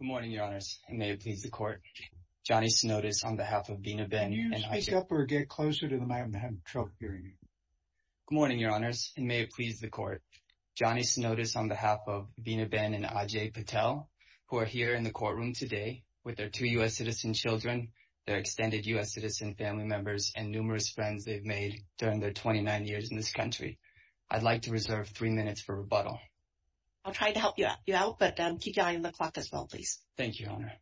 Good morning, Your Honors, and may it please the Court, Johnny Snodis on behalf of Veenaben and Ajay Patel, who are here in the courtroom today with their two U.S. citizen children, their extended U.S. citizen family members, and numerous friends they've made during their 29 years in this country. I'd like to reserve three minutes for rebuttal. I'll try to help you out, but keep your eye on the clock as well, please. Thank you, Your Honor.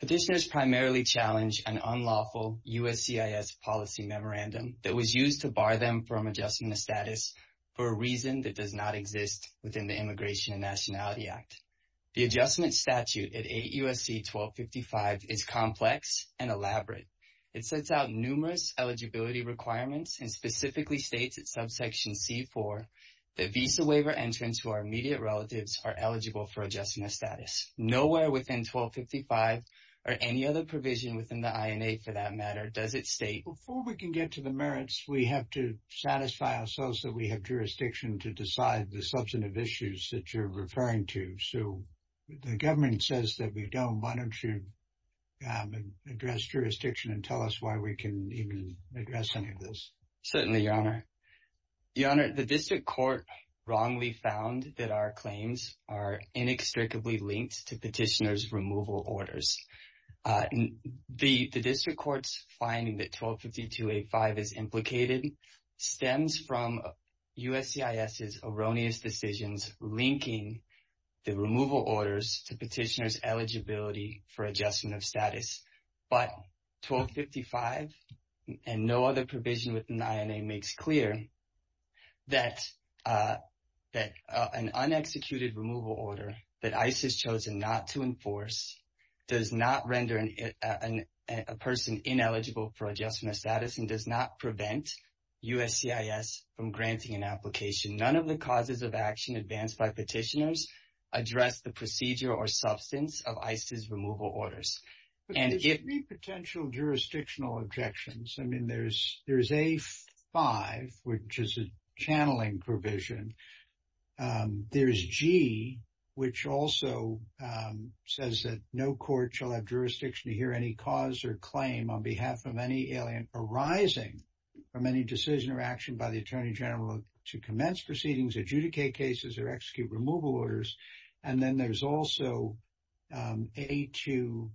Petitioners primarily challenge an unlawful USCIS policy memorandum that was used to bar them from adjusting the status for a reason that does not exist within the Immigration and Nationality Act. The adjustment statute at 8 U.S.C. 1255 is complex and elaborate. It sets out numerous eligibility requirements and specifically states at subsection C-4 that visa waiver entrants who are immediate relatives are eligible for adjusting the status. Nowhere within 1255 or any other provision within the INA for that matter does it state Before we can get to the merits, we have to satisfy ourselves that we have jurisdiction to decide the substantive issues that you're referring to. So the government says that we don't. Why don't you address jurisdiction and tell us why we can even address any of this? Certainly, Your Honor. Your Honor, the district court wrongly found that our claims are inextricably linked to petitioners' removal orders. The district court's finding that 1252A5 is implicated stems from USCIS's erroneous decisions linking the removal orders to petitioners' eligibility for adjustment of status. But 1255 and no other provision within the INA makes clear that an unexecuted removal order that ICE has chosen not to enforce does not render a person ineligible for adjustment of status and does not prevent USCIS from granting an application. None of the causes of action advanced by petitioners address the procedure or substance of ICE's removal orders. But there's three potential jurisdictional objections. I mean, there's A5, which is a channeling provision. There's G, which also says that no court shall have jurisdiction to hear any cause or claim on behalf of any alien arising from any decision or action by the Attorney General to commence proceedings, adjudicate cases, or execute removal orders. And then there's also A2,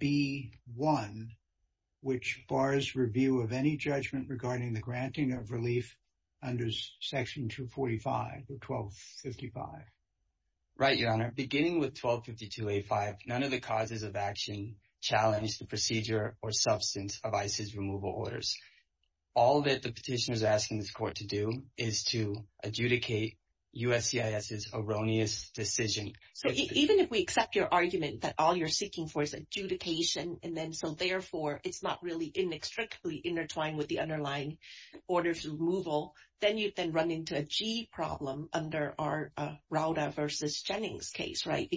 B1, which bars review of any judgment regarding the granting of relief under Section 245 or 1255. Right, Your Honor. Beginning with 1252A5, none of the causes of action challenge the procedure or substance of ICE's removal orders. All that the petitioner is asking this court to do is to adjudicate USCIS's erroneous decision. So even if we accept your argument that all you're seeking for is adjudication, and then so therefore it's not really inextricably intertwined with the underlying orders of removal, then you'd then run into a G problem under our Rauda v. Jennings case, right?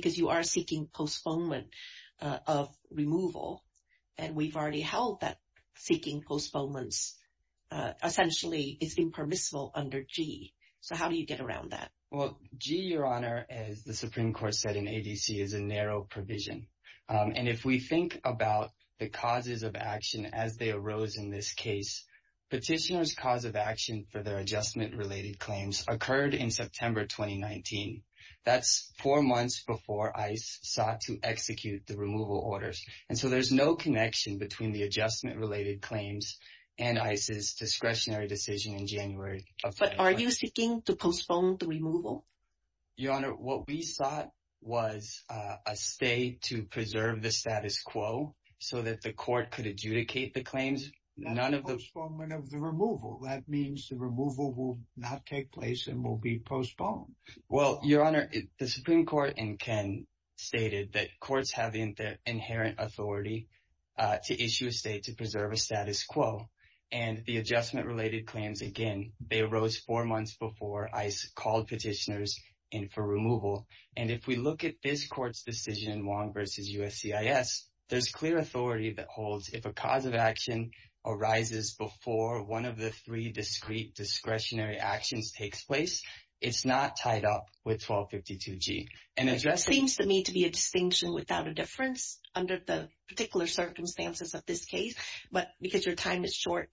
Essentially, it's been permissible under G. So how do you get around that? Well, G, Your Honor, as the Supreme Court said in ADC, is a narrow provision. And if we think about the causes of action as they arose in this case, petitioner's cause of action for their adjustment-related claims occurred in September 2019. That's four months before ICE sought to execute the removal orders. And so there's no connection between the adjustment-related claims and ICE's discretionary decision in January. But are you seeking to postpone the removal? Your Honor, what we sought was a stay to preserve the status quo so that the court could adjudicate the claims. Not a postponement of the removal. That means the removal will not take place and will be postponed. Well, Your Honor, the Supreme Court in Ken stated that courts have the inherent authority to issue a stay to preserve a status quo. And the adjustment-related claims, again, they arose four months before ICE called petitioners in for removal. And if we look at this court's decision, Wong v. USCIS, there's clear authority that holds if a cause of action arises before one of the three discrete discretionary actions takes place, it's not tied up with 1252G. It seems to me to be a distinction without a difference under the particular circumstances of this case. But because your time is short,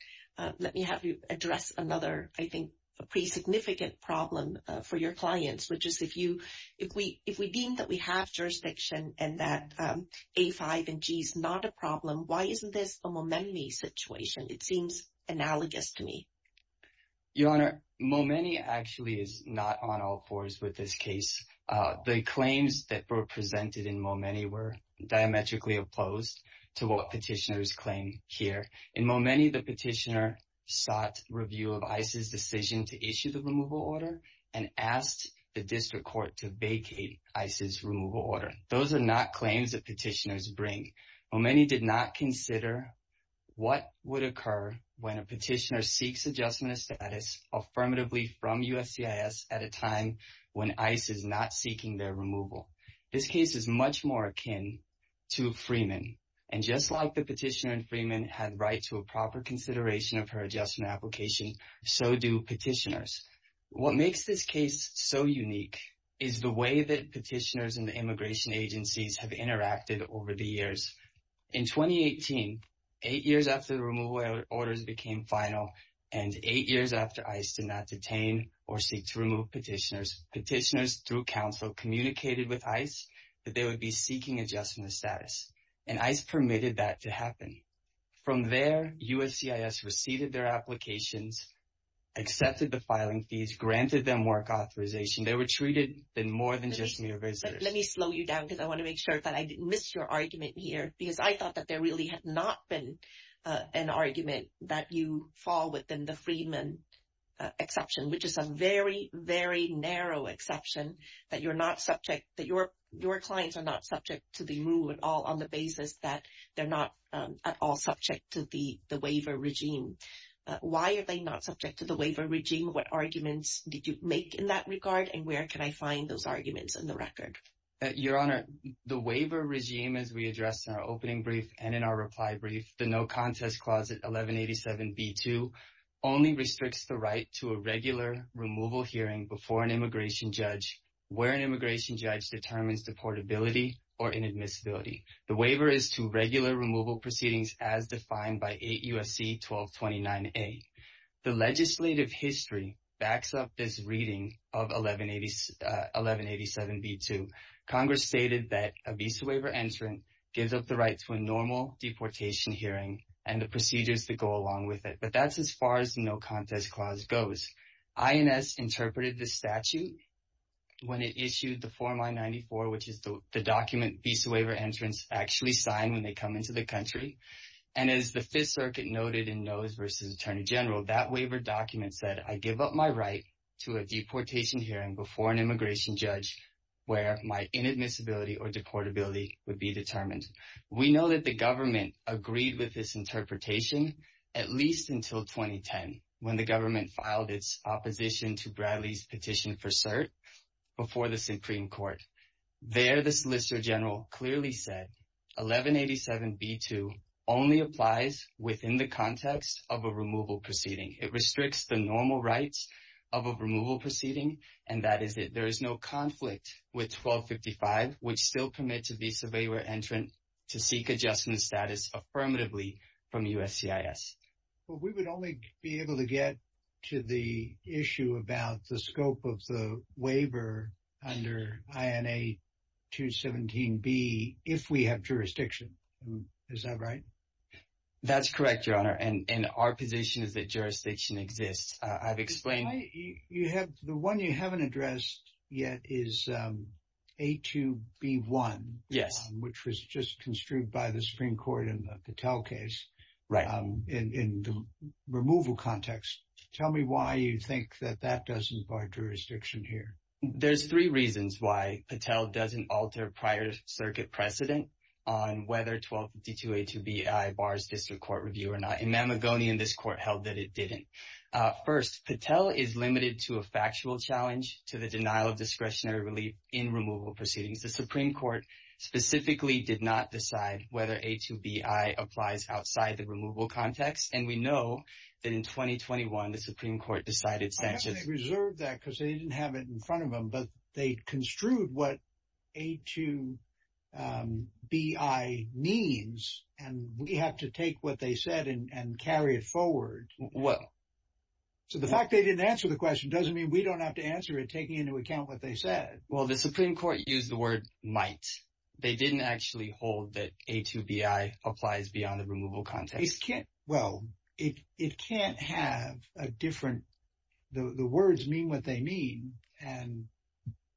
let me have you address another, I think, pretty significant problem for your clients, which is if we deem that we have jurisdiction and that A5 and G is not a problem, why isn't this a Momenni situation? It seems analogous to me. Your Honor, Momenni actually is not on all fours with this case. The claims that were presented in Momenni were diametrically opposed to what petitioners claim here. In Momenni, the petitioner sought review of ICE's decision to issue the removal order and asked the district court to vacate ICE's removal order. Those are not claims that petitioners bring. Momenni did not consider what would occur when a petitioner seeks adjustment of status affirmatively from USCIS at a time when ICE is not seeking their removal. This case is much more akin to Freeman. And just like the petitioner in Freeman had right to a proper consideration of her adjustment application, so do petitioners. What makes this case so unique is the way that petitioners and the immigration agencies have interacted over the years. In 2018, eight years after the removal orders became final and eight years after ICE did not detain or seek to remove petitioners, petitioners through counsel communicated with ICE that they would be seeking adjustment of status, and ICE permitted that to happen. From there, USCIS received their applications, accepted the filing fees, granted them work authorization. They were treated more than just mere visitors. Let me slow you down because I want to make sure that I didn't miss your argument here, because I thought that there really had not been an argument that you fall within the Freeman exception, which is a very, very narrow exception that your clients are not subject to the rule at all on the basis that they're not at all subject to the waiver regime. Why are they not subject to the waiver regime? What arguments did you make in that regard? And where can I find those arguments in the record? Your Honor, the waiver regime, as we addressed in our opening brief and in our reply brief, the no contest clause at 1187B2, only restricts the right to a regular removal hearing before an immigration judge where an immigration judge determines deportability or inadmissibility. The waiver is to regular removal proceedings as defined by 8 U.S.C. 1229A. The legislative history backs up this reading of 1187B2. Congress stated that a visa waiver entrant gives up the right to a normal deportation hearing and the procedures that go along with it, but that's as far as the no contest clause goes. INS interpreted the statute when it issued the Form I-94, which is the document visa waiver entrants actually sign when they come into the country. And as the Fifth Circuit noted in Noes v. Attorney General, that waiver document said, I give up my right to a deportation hearing before an immigration judge where my inadmissibility or deportability would be determined. We know that the government agreed with this interpretation at least until 2010, when the government filed its opposition to Bradley's petition for cert before the Supreme Court. There, the Solicitor General clearly said 1187B2 only applies within the context of a removal proceeding. It restricts the normal rights of a removal proceeding, and that is that there is no conflict with 1255, which still permits a visa waiver entrant to seek adjustment status affirmatively from USCIS. Well, we would only be able to get to the issue about the scope of the waiver under INA 217B if we have jurisdiction. Is that right? That's correct, Your Honor, and our position is that jurisdiction exists. I've explained. You have the one you haven't addressed yet is A2B1. Yes. Which was just construed by the Supreme Court in the Patel case. Right. In the removal context. Tell me why you think that that doesn't bar jurisdiction here. There's three reasons why Patel doesn't alter prior circuit precedent on whether 1252A2BI bars district court review or not. In Mamagonian, this court held that it didn't. First, Patel is limited to a factual challenge to the denial of discretionary relief in removal proceedings. The Supreme Court specifically did not decide whether A2BI applies outside the removal context. And we know that in 2021, the Supreme Court decided. They reserved that because they didn't have it in front of them, but they construed what A2BI means. And we have to take what they said and carry it forward. So the fact they didn't answer the question doesn't mean we don't have to answer it, taking into account what they said. Well, the Supreme Court used the word might. They didn't actually hold that A2BI applies beyond the removal context. Well, it can't have a different – the words mean what they mean. And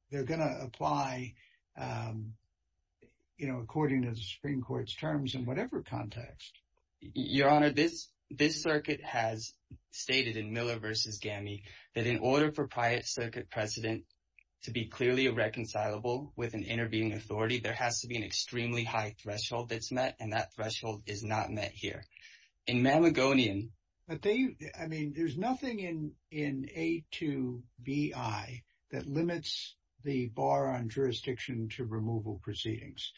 they're going to apply, you know, according to the Supreme Court's terms in whatever context. Your Honor, this circuit has stated in Miller v. Gammie that in order for Pryor Circuit precedent to be clearly irreconcilable with an intervening authority, there has to be an extremely high threshold that's met, and that threshold is not met here. In Mamagonian – But they – I mean, there's nothing in A2BI that limits the bar on jurisdiction to removal proceedings.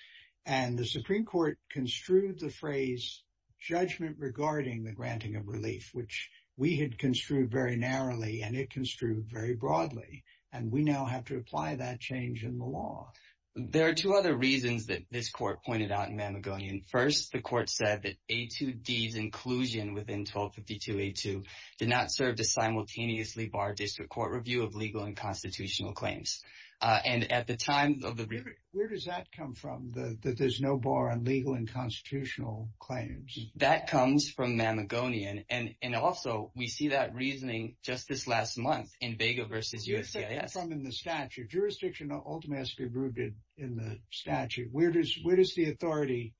And the Supreme Court construed the phrase judgment regarding the granting of relief, which we had construed very narrowly, and it construed very broadly. And we now have to apply that change in the law. There are two other reasons that this court pointed out in Mamagonian. First, the court said that A2D's inclusion within 1252A2 did not serve to simultaneously bar district court review of legal and constitutional claims. And at the time of the – Where does that come from, that there's no bar on legal and constitutional claims? That comes from Mamagonian. And also, we see that reasoning just this last month in Vega v. USCIS. Where does that come from in the statute? Jurisdiction ultimately has to be approved in the statute. Where does the authority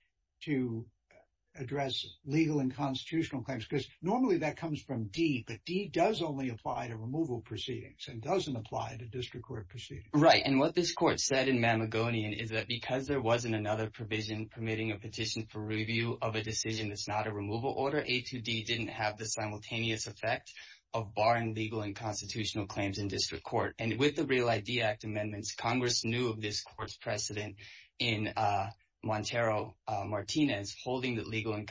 to address legal and constitutional claims? Because normally that comes from D, but D does only apply to removal proceedings and doesn't apply to district court proceedings. Right, and what this court said in Mamagonian is that because there wasn't another provision permitting a petition for review of a decision that's not a removal order, A2D didn't have the simultaneous effect of barring legal and constitutional claims in district court. And with the Real ID Act amendments, Congress knew of this court's precedent in Montero-Martinez, holding that legal and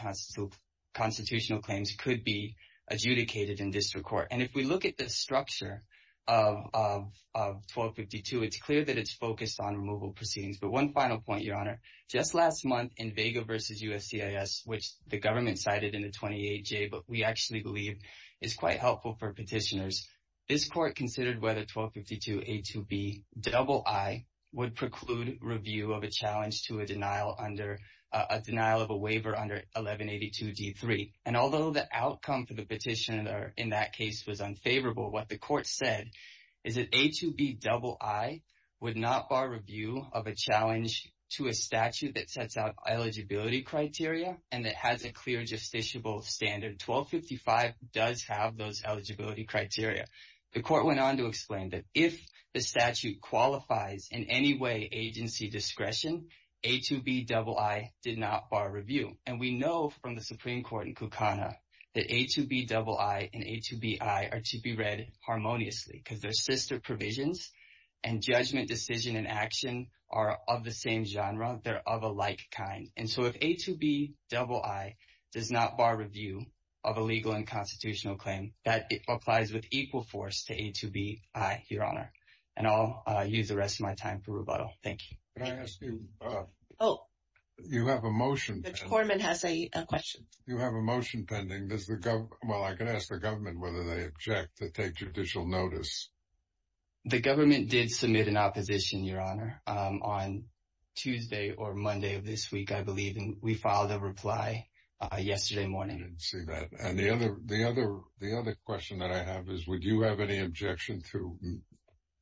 constitutional claims could be adjudicated in district court. And if we look at the structure of 1252, it's clear that it's focused on removal proceedings. But one final point, Your Honor. Just last month in Vega v. USCIS, which the government cited in the 28J, but we actually believe is quite helpful for petitioners. This court considered whether 1252A2Bii would preclude review of a challenge to a denial of a waiver under 1182D3. And although the outcome for the petitioner in that case was unfavorable, what the court said is that A2Bii would not bar review of a challenge to a statute that sets out eligibility criteria and that has a clear justiciable standard. 1255 does have those eligibility criteria. The court went on to explain that if the statute qualifies in any way agency discretion, A2Bii did not bar review. And we know from the Supreme Court in Kukana that A2Bii and A2Bii are to be read harmoniously because they're sister provisions and judgment, decision, and action are of the same genre. They're of a like kind. And so if A2Bii does not bar review of a legal and constitutional claim, that applies with equal force to A2Bii, Your Honor. And I'll use the rest of my time for rebuttal. Thank you. Can I ask you? Oh. You have a motion. Mr. Korman has a question. You have a motion pending. Well, I can ask the government whether they object to take judicial notice. The government did submit an opposition, Your Honor, on Tuesday or Monday of this week. I believe we filed a reply yesterday morning. I didn't see that. And the other question that I have is would you have any objection to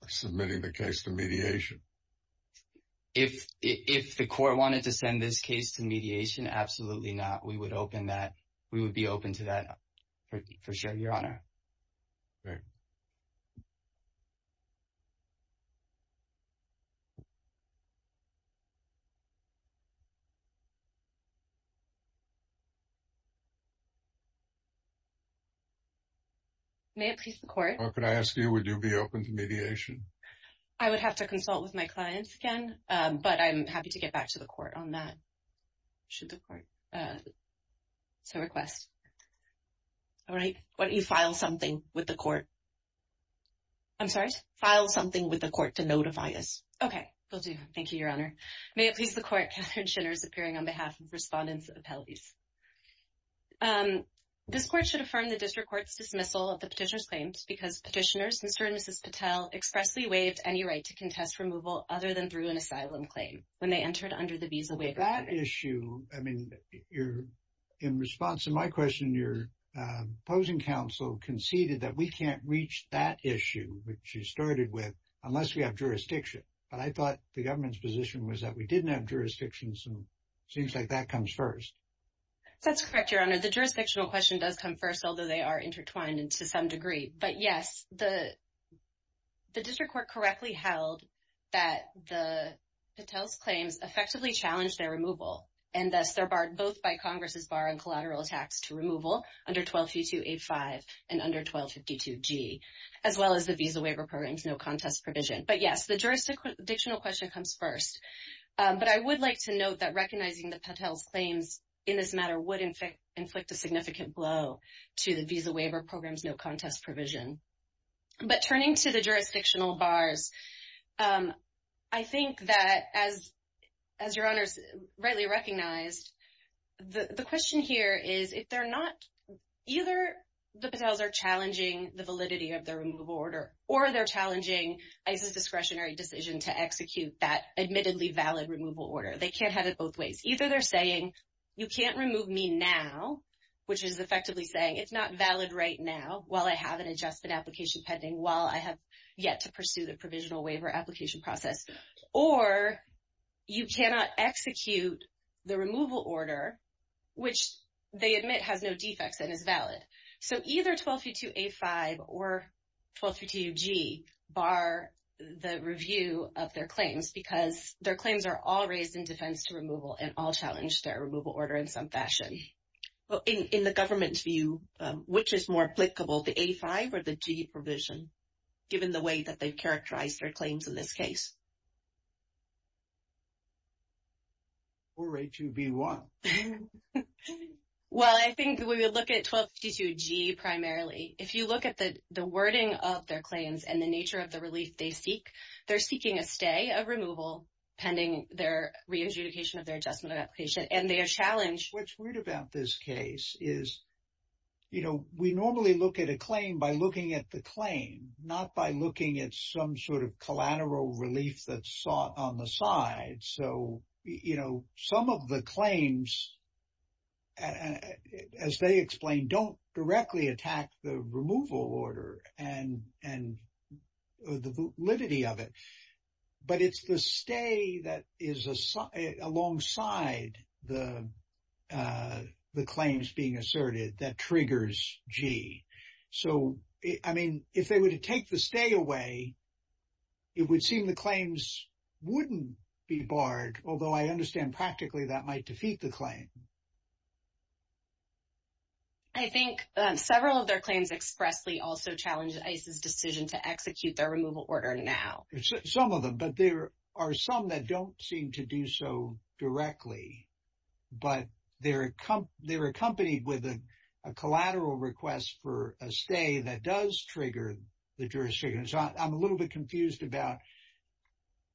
submitting the case to mediation? If the court wanted to send this case to mediation, absolutely not. We would be open to that for sure, Your Honor. Thank you. May it please the court? If I could ask you, would you be open to mediation? I would have to consult with my clients again, but I'm happy to get back to the court on that, should the court so request. All right. Why don't you file something with the court? I'm sorry? File something with the court to notify us. Okay. Will do. Thank you, Your Honor. May it please the court? Catherine Shinners appearing on behalf of Respondents Appellees. This court should affirm the district court's dismissal of the petitioner's claims because petitioners, Mr. and Mrs. Patel, expressly waived any right to contest removal other than through an asylum claim when they entered under the visa waiver. That issue, I mean, in response to my question, your opposing counsel conceded that we can't reach that issue, which you started with, unless we have jurisdiction. But I thought the government's position was that we didn't have jurisdiction, so it seems like that comes first. That's correct, Your Honor. The jurisdictional question does come first, although they are intertwined to some degree. But, yes, the district court correctly held that the Patel's claims effectively challenged their removal, and thus they're barred both by Congress's bar on collateral tax to removal under 1252A5 and under 1252G, as well as the visa waiver program's no contest provision. But, yes, the jurisdictional question comes first. But I would like to note that recognizing the Patel's claims in this matter would inflict a significant blow to the visa waiver program's no contest provision. But turning to the jurisdictional bars, I think that, as Your Honor's rightly recognized, the question here is, if they're not – either the Patels are challenging the validity of their removal order, or they're challenging ICE's discretionary decision to execute that admittedly valid removal order. They can't have it both ways. Either they're saying, you can't remove me now, which is effectively saying it's not valid right now, while I have an adjustment application pending, while I have yet to pursue the provisional waiver application process, or you cannot execute the removal order, which they admit has no defects and is valid. So, either 1252A5 or 1252G bar the review of their claims, because their claims are all raised in defense to removal and all challenge their removal order in some fashion. In the government's view, which is more applicable, the A5 or the G provision, given the way that they've characterized their claims in this case? Or A2, B1. Well, I think we would look at 1252G primarily. If you look at the wording of their claims and the nature of the relief they seek, they're seeking a stay of removal pending their re-adjudication of their adjustment application, and they are challenged. What's weird about this case is, you know, we normally look at a claim by looking at the claim, not by looking at some sort of collateral relief that's sought on the side. So, you know, some of the claims, as they explain, don't directly attack the removal order and the validity of it. But it's the stay that is alongside the claims being asserted that triggers G. So, I mean, if they were to take the stay away, it would seem the claims wouldn't be barred, although I understand practically that might defeat the claim. I think several of their claims expressly also challenge ICE's decision to execute their removal order now. Some of them, but there are some that don't seem to do so directly, but they're accompanied with a collateral request for a stay that does trigger the jurisdiction. So, I'm a little bit confused about,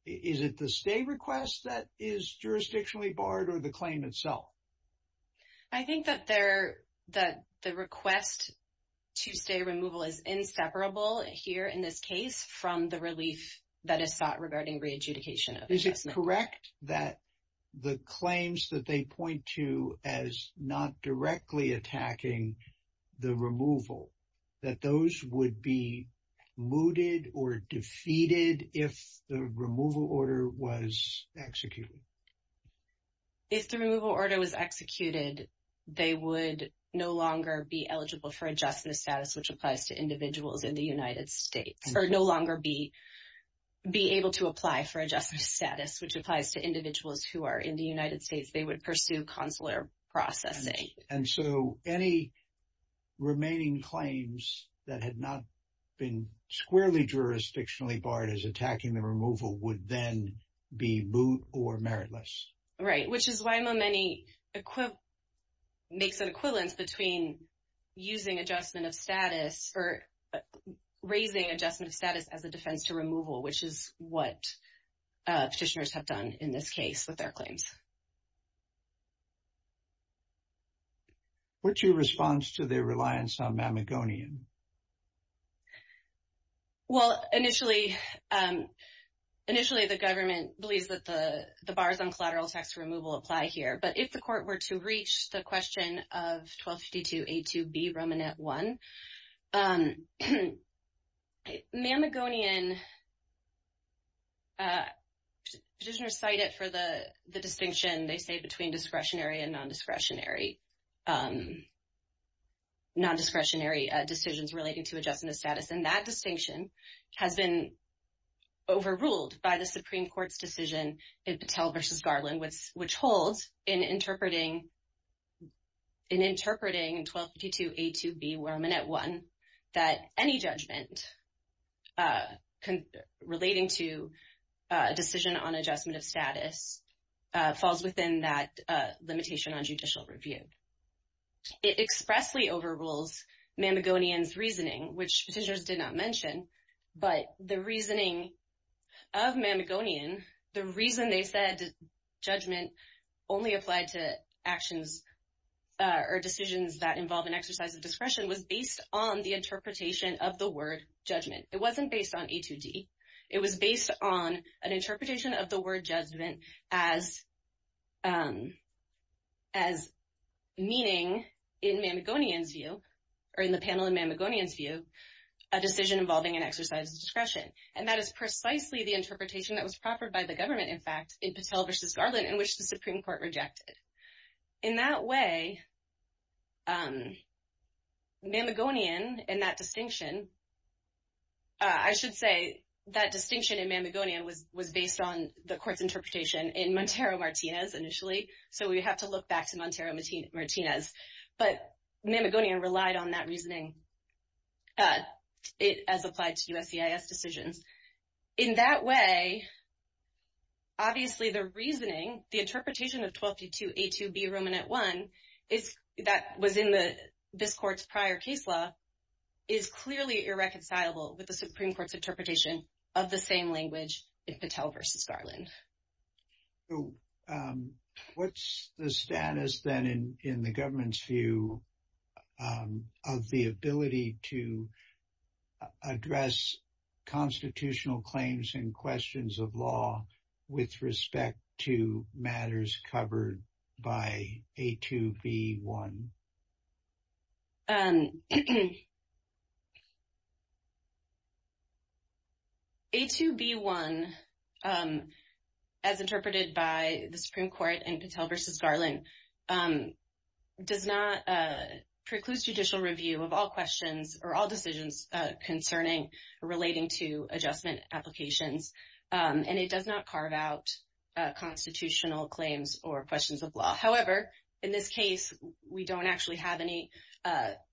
is it the stay request that is jurisdictionally barred or the claim itself? I think that the request to stay removal is inseparable here in this case from the relief that is sought regarding re-adjudication of adjustment. Is it correct that the claims that they point to as not directly attacking the removal, that those would be mooted or defeated if the removal order was executed? If the removal order was executed, they would no longer be eligible for adjustment status, which applies to individuals in the United States, or no longer be able to apply for adjustment status, which applies to individuals who are in the United States. They would pursue consular processing. And so, any remaining claims that had not been squarely jurisdictionally barred as attacking the removal would then be moot or meritless? Right, which is why Momeni makes an equivalence between using adjustment of status or raising adjustment of status as a defense to removal, which is what petitioners have done in this case with their claims. What's your response to their reliance on Mamagonian? Well, initially, the government believes that the bars on collateral tax removal apply here. But if the court were to reach the question of 1252A2B Romanet 1, Mamagonian, petitioners cite it for the distinction, they say, between discretionary and nondiscretionary decisions relating to adjustment of status. And that distinction has been overruled by the Supreme Court's decision in Patel v. Garland, which holds in interpreting 1252A2B Romanet 1 that any judgment relating to a decision on adjustment of status falls within that limitation on judicial review. It expressly overrules Mamagonian's reasoning, which petitioners did not mention. But the reasoning of Mamagonian, the reason they said judgment only applied to actions or decisions that involve an exercise of discretion, was based on the interpretation of the word judgment. It wasn't based on A2D. It was based on an interpretation of the word judgment as meaning, in Mamagonian's view, or in the panel in Mamagonian's view, a decision involving an exercise of discretion. And that is precisely the interpretation that was proffered by the government, in fact, in Patel v. Garland, in which the Supreme Court rejected. In that way, Mamagonian and that distinction, I should say, that distinction in Mamagonian was based on the court's interpretation in Montero-Martinez initially. So we have to look back to Montero-Martinez. But Mamagonian relied on that reasoning as applied to USCIS decisions. In that way, obviously, the reasoning, the interpretation of 1232A2B, Roman at 1, that was in this court's prior case law, is clearly irreconcilable with the Supreme Court's interpretation of the same language in Patel v. Garland. So what's the status then in the government's view of the ability to address constitutional claims and questions of law with respect to matters covered by A2B1? A2B1, as interpreted by the Supreme Court in Patel v. Garland, does not preclude judicial review of all questions or all decisions concerning or relating to adjustment applications. And it does not carve out constitutional claims or questions of law. However, in this case, we don't actually have any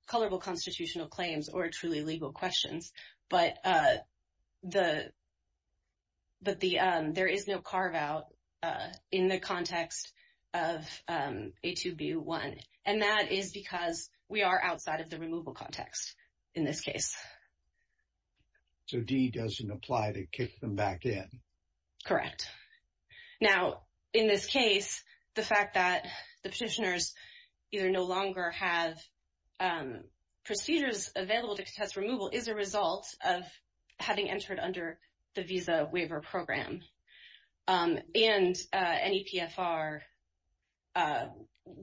colorable constitutional claims or truly legal questions. But there is no carve out in the context of A2B1. And that is because we are outside of the removal context in this case. So D doesn't apply to kick them back in? Correct. Now, in this case, the fact that the petitioners either no longer have procedures available to contest removal is a result of having entered under the Visa Waiver Program. And NEPFR,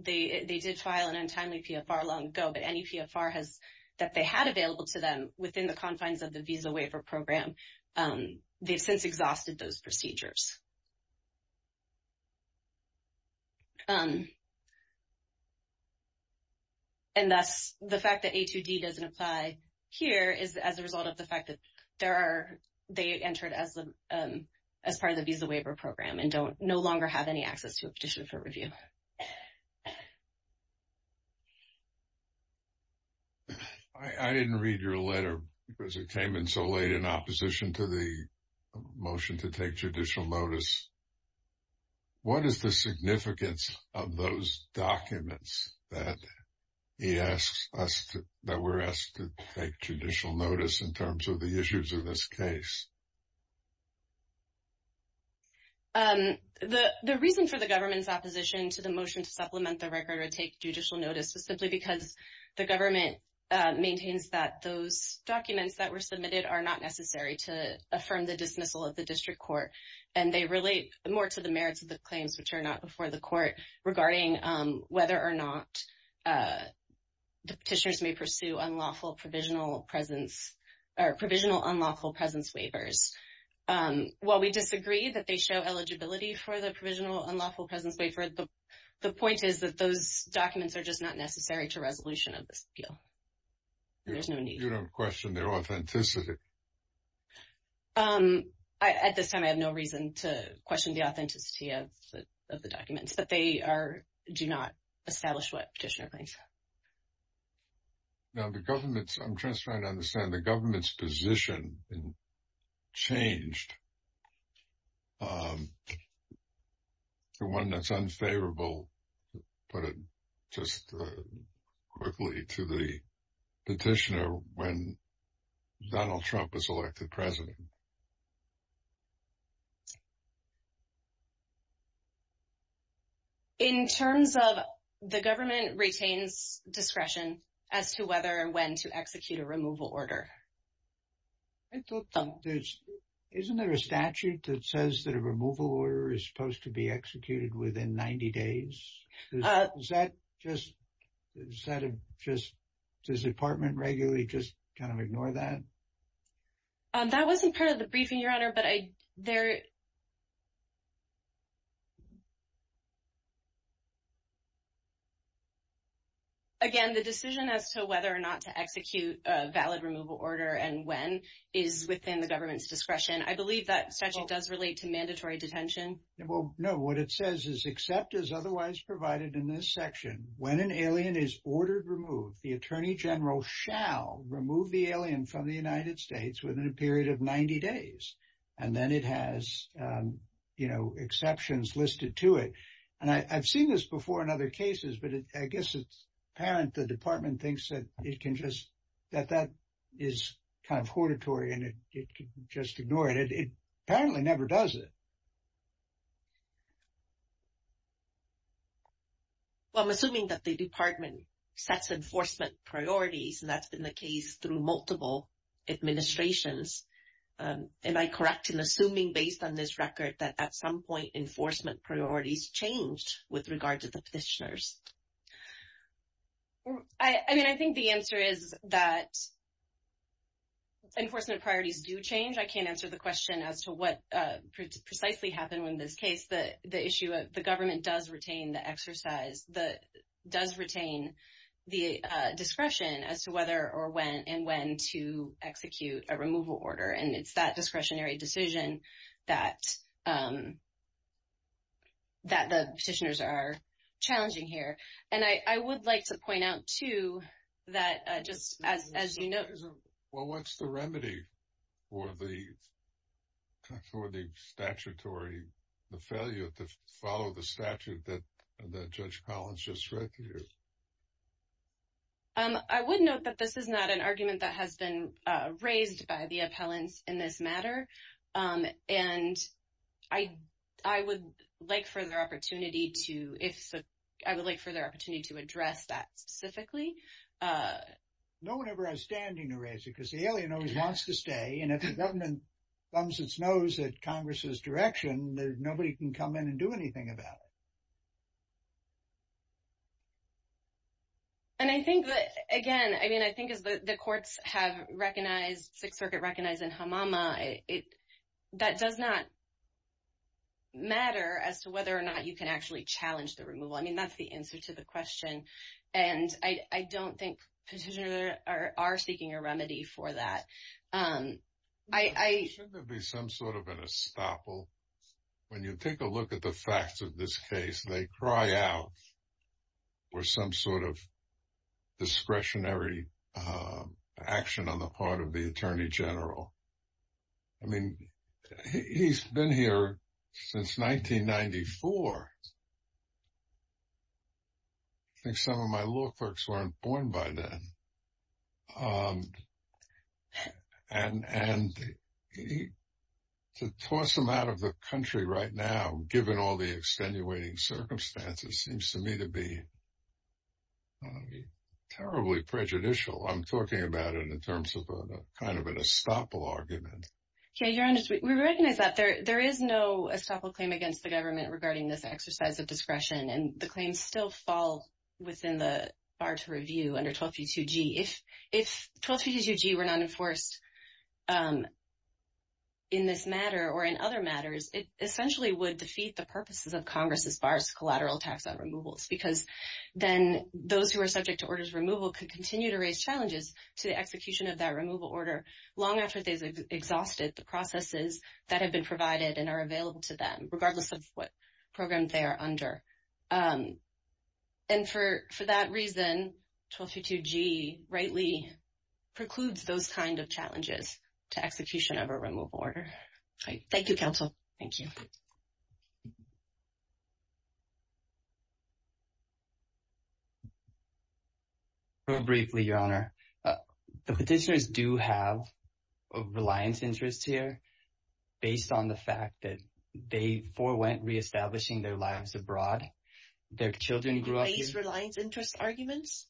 they did file an untimely PFR long ago, but NEPFR that they had available to them within the confines of the Visa Waiver Program, they've since exhausted those procedures. And thus, the fact that A2D doesn't apply here is as a result of the fact that they entered as part of the Visa Waiver Program and no longer have any access to a petition for review. I didn't read your letter because it came in so late in opposition to the motion to take judicial notice. What is the significance of those documents that we're asked to take judicial notice in terms of the issues of this case? The reason for the government's opposition to the motion to supplement the record or take judicial notice was simply because the government maintains that those documents that were submitted are not necessary to affirm the dismissal of the district court. And they relate more to the merits of the claims which are not before the court regarding whether or not the petitioners may pursue unlawful provisional presence or provisional unlawful presence waivers. While we disagree that they show eligibility for the provisional unlawful presence waiver, the point is that those documents are just not necessary to resolution of this appeal. There's no need. You don't question their authenticity? At this time, I have no reason to question the authenticity of the documents, but they do not establish what petitioner claims. Now the government's, I'm just trying to understand the government's position changed to one that's unfavorable, but just quickly to the petitioner when Donald Trump was elected president. In terms of the government retains discretion as to whether and when to execute a removal order. Isn't there a statute that says that a removal order is supposed to be executed within 90 days? Does the department regularly just kind of ignore that? That wasn't part of the briefing, Your Honor, but there. Again, the decision as to whether or not to execute a valid removal order and when is within the government's discretion. I believe that statute does relate to mandatory detention. Well, no. What it says is except as otherwise provided in this section, when an alien is ordered removed, the attorney general shall remove the alien from the United States within a period of 90 days. And then it has, you know, exceptions listed to it. And I've seen this before in other cases, but I guess it's apparent the department thinks that it can just, that that is kind of hortatory and it could just ignore it. It apparently never does it. Well, I'm assuming that the department sets enforcement priorities, and that's been the case through multiple administrations. Am I correct in assuming based on this record that at some point enforcement priorities changed with regard to the petitioners? I mean, I think the answer is that. Enforcement priorities do change. I can't answer the question as to what precisely happened in this case. The issue of the government does retain the exercise, does retain the discretion as to whether or when and when to execute a removal order. And it's that discretionary decision that the petitioners are challenging here. And I would like to point out, too, that just as you know. Well, what's the remedy for the statutory failure to follow the statute that Judge Collins just read to you? I would note that this is not an argument that has been raised by the appellants in this matter. And I would like further opportunity to address that specifically. No one ever has standing to raise it because the alien always wants to stay. And if the government thumbs its nose at Congress's direction, nobody can come in and do anything about it. And I think that, again, I mean, I think as the courts have recognized, Sixth Circuit recognized in Hamama, that does not matter as to whether or not you can actually challenge the removal. I mean, that's the answer to the question. And I don't think petitioners are seeking a remedy for that. Shouldn't there be some sort of an estoppel? When you take a look at the facts of this case, they cry out for some sort of discretionary action on the part of the attorney general. I mean, he's been here since 1994. I think some of my law clerks weren't born by then. And to toss him out of the country right now, given all the extenuating circumstances, seems to me to be terribly prejudicial. I'm talking about it in terms of kind of an estoppel argument. We recognize that there is no estoppel claim against the government regarding this exercise of discretion. And the claims still fall within the bar to review under 1232G. If 1232G were not enforced in this matter or in other matters, it essentially would defeat the purposes of Congress as far as collateral tax on removals, because then those who are subject to orders of removal could continue to raise challenges to the execution of that removal order, long after they've exhausted the processes that have been provided and are available to them, regardless of what program they are under. And for that reason, 1232G rightly precludes those kind of challenges to execution of a removal order. Thank you, Counsel. Thank you. Very briefly, Your Honor. The petitioners do have reliance interests here, based on the fact that they forewent reestablishing their lives abroad. Their children grew up… Do they use reliance interest arguments?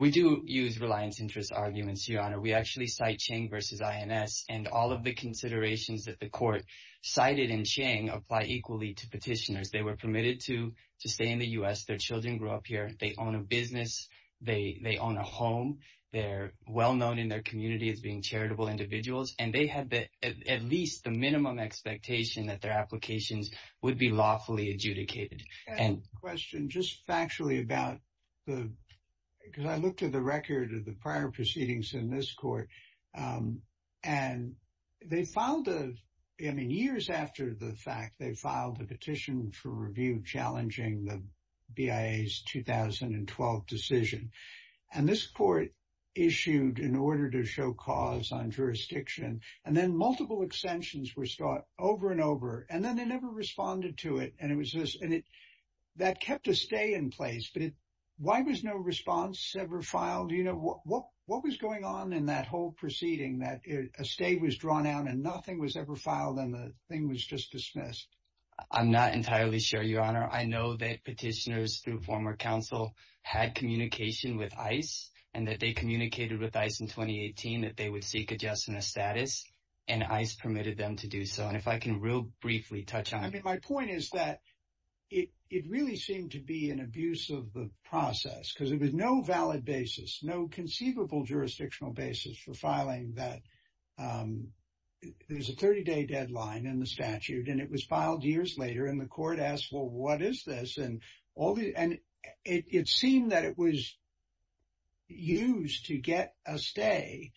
We do use reliance interest arguments, Your Honor. We actually cite Chang v. INS, and all of the considerations that the court cited in Chang apply equally to petitioners. They were permitted to stay in the U.S. Their children grew up here. They own a business. They own a home. They're well-known in their community as being charitable individuals, and they had at least the minimum expectation that their applications would be lawfully adjudicated. I have a question, just factually about the… Because I looked at the record of the prior proceedings in this court, and they filed a… I mean, years after the fact, they filed a petition for review challenging the BIA's 2012 decision. And this court issued an order to show cause on jurisdiction, and then multiple extensions were sought over and over. And then they never responded to it, and it was just… That kept a stay in place, but why was no response ever filed? What was going on in that whole proceeding that a stay was drawn out and nothing was ever filed, and the thing was just dismissed? I'm not entirely sure, Your Honor. I know that petitioners through former counsel had communication with ICE, and that they communicated with ICE in 2018 that they would seek adjustment of status, and ICE permitted them to do so. And if I can real briefly touch on it. I mean, my point is that it really seemed to be an abuse of the process because it was no valid basis, no conceivable jurisdictional basis for filing that. There's a 30-day deadline in the statute, and it was filed years later, and the court asked, well, what is this? And it seemed that it was used to get a stay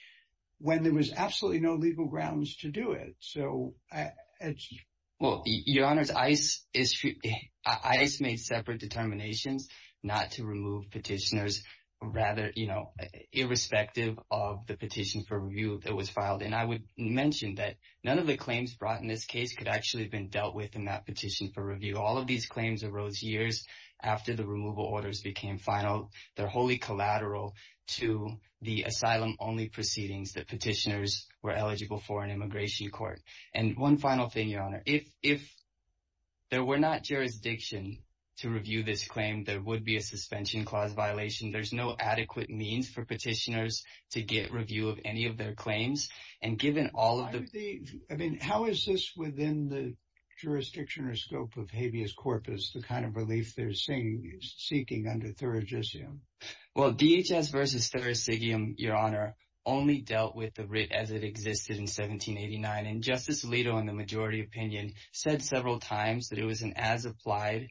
when there was absolutely no legal grounds to do it. Well, Your Honor, ICE made separate determinations not to remove petitioners, rather, you know, irrespective of the petition for review that was filed. And I would mention that none of the claims brought in this case could actually have been dealt with in that petition for review. All of these claims arose years after the removal orders became final. They're wholly collateral to the asylum-only proceedings that petitioners were eligible for in immigration court. And one final thing, Your Honor. If there were not jurisdiction to review this claim, there would be a suspension clause violation. There's no adequate means for petitioners to get review of any of their claims. I mean, how is this within the jurisdiction or scope of habeas corpus, the kind of relief they're seeking under thurigisium? Well, DHS versus thurigisium, Your Honor, only dealt with the writ as it existed in 1789. And Justice Alito, in the majority opinion, said several times that it was an as-applied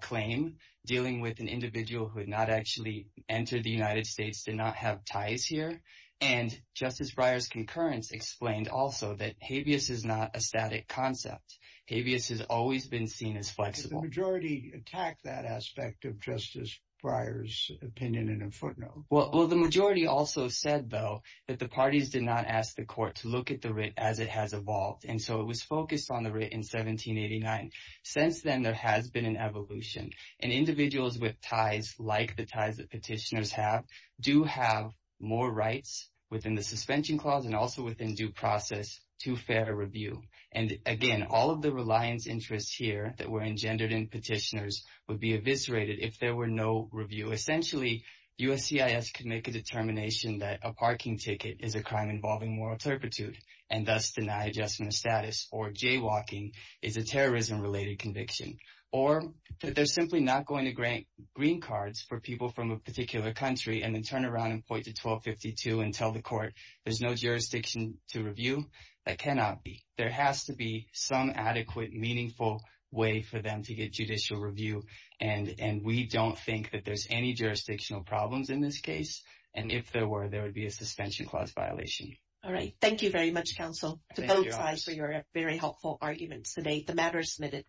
claim, dealing with an individual who had not actually entered the United States, did not have ties here. And Justice Breyer's concurrence explained also that habeas is not a static concept. Habeas has always been seen as flexible. Did the majority attack that aspect of Justice Breyer's opinion in a footnote? Well, the majority also said, though, that the parties did not ask the court to look at the writ as it has evolved. And so it was focused on the writ in 1789. Since then, there has been an evolution. And individuals with ties like the ties that petitioners have do have more rights within the suspension clause and also within due process to fair review. And, again, all of the reliance interests here that were engendered in petitioners would be eviscerated if there were no review. Essentially, USCIS could make a determination that a parking ticket is a crime involving moral turpitude and thus deny adjustment of status, or jaywalking is a terrorism-related conviction. Or that they're simply not going to grant green cards for people from a particular country and then turn around and point to 1252 and tell the court there's no jurisdiction to review. That cannot be. There has to be some adequate, meaningful way for them to get judicial review. And we don't think that there's any jurisdictional problems in this case. And if there were, there would be a suspension clause violation. All right. Thank you very much, counsel, to both sides for your very helpful arguments today. The matter is submitted.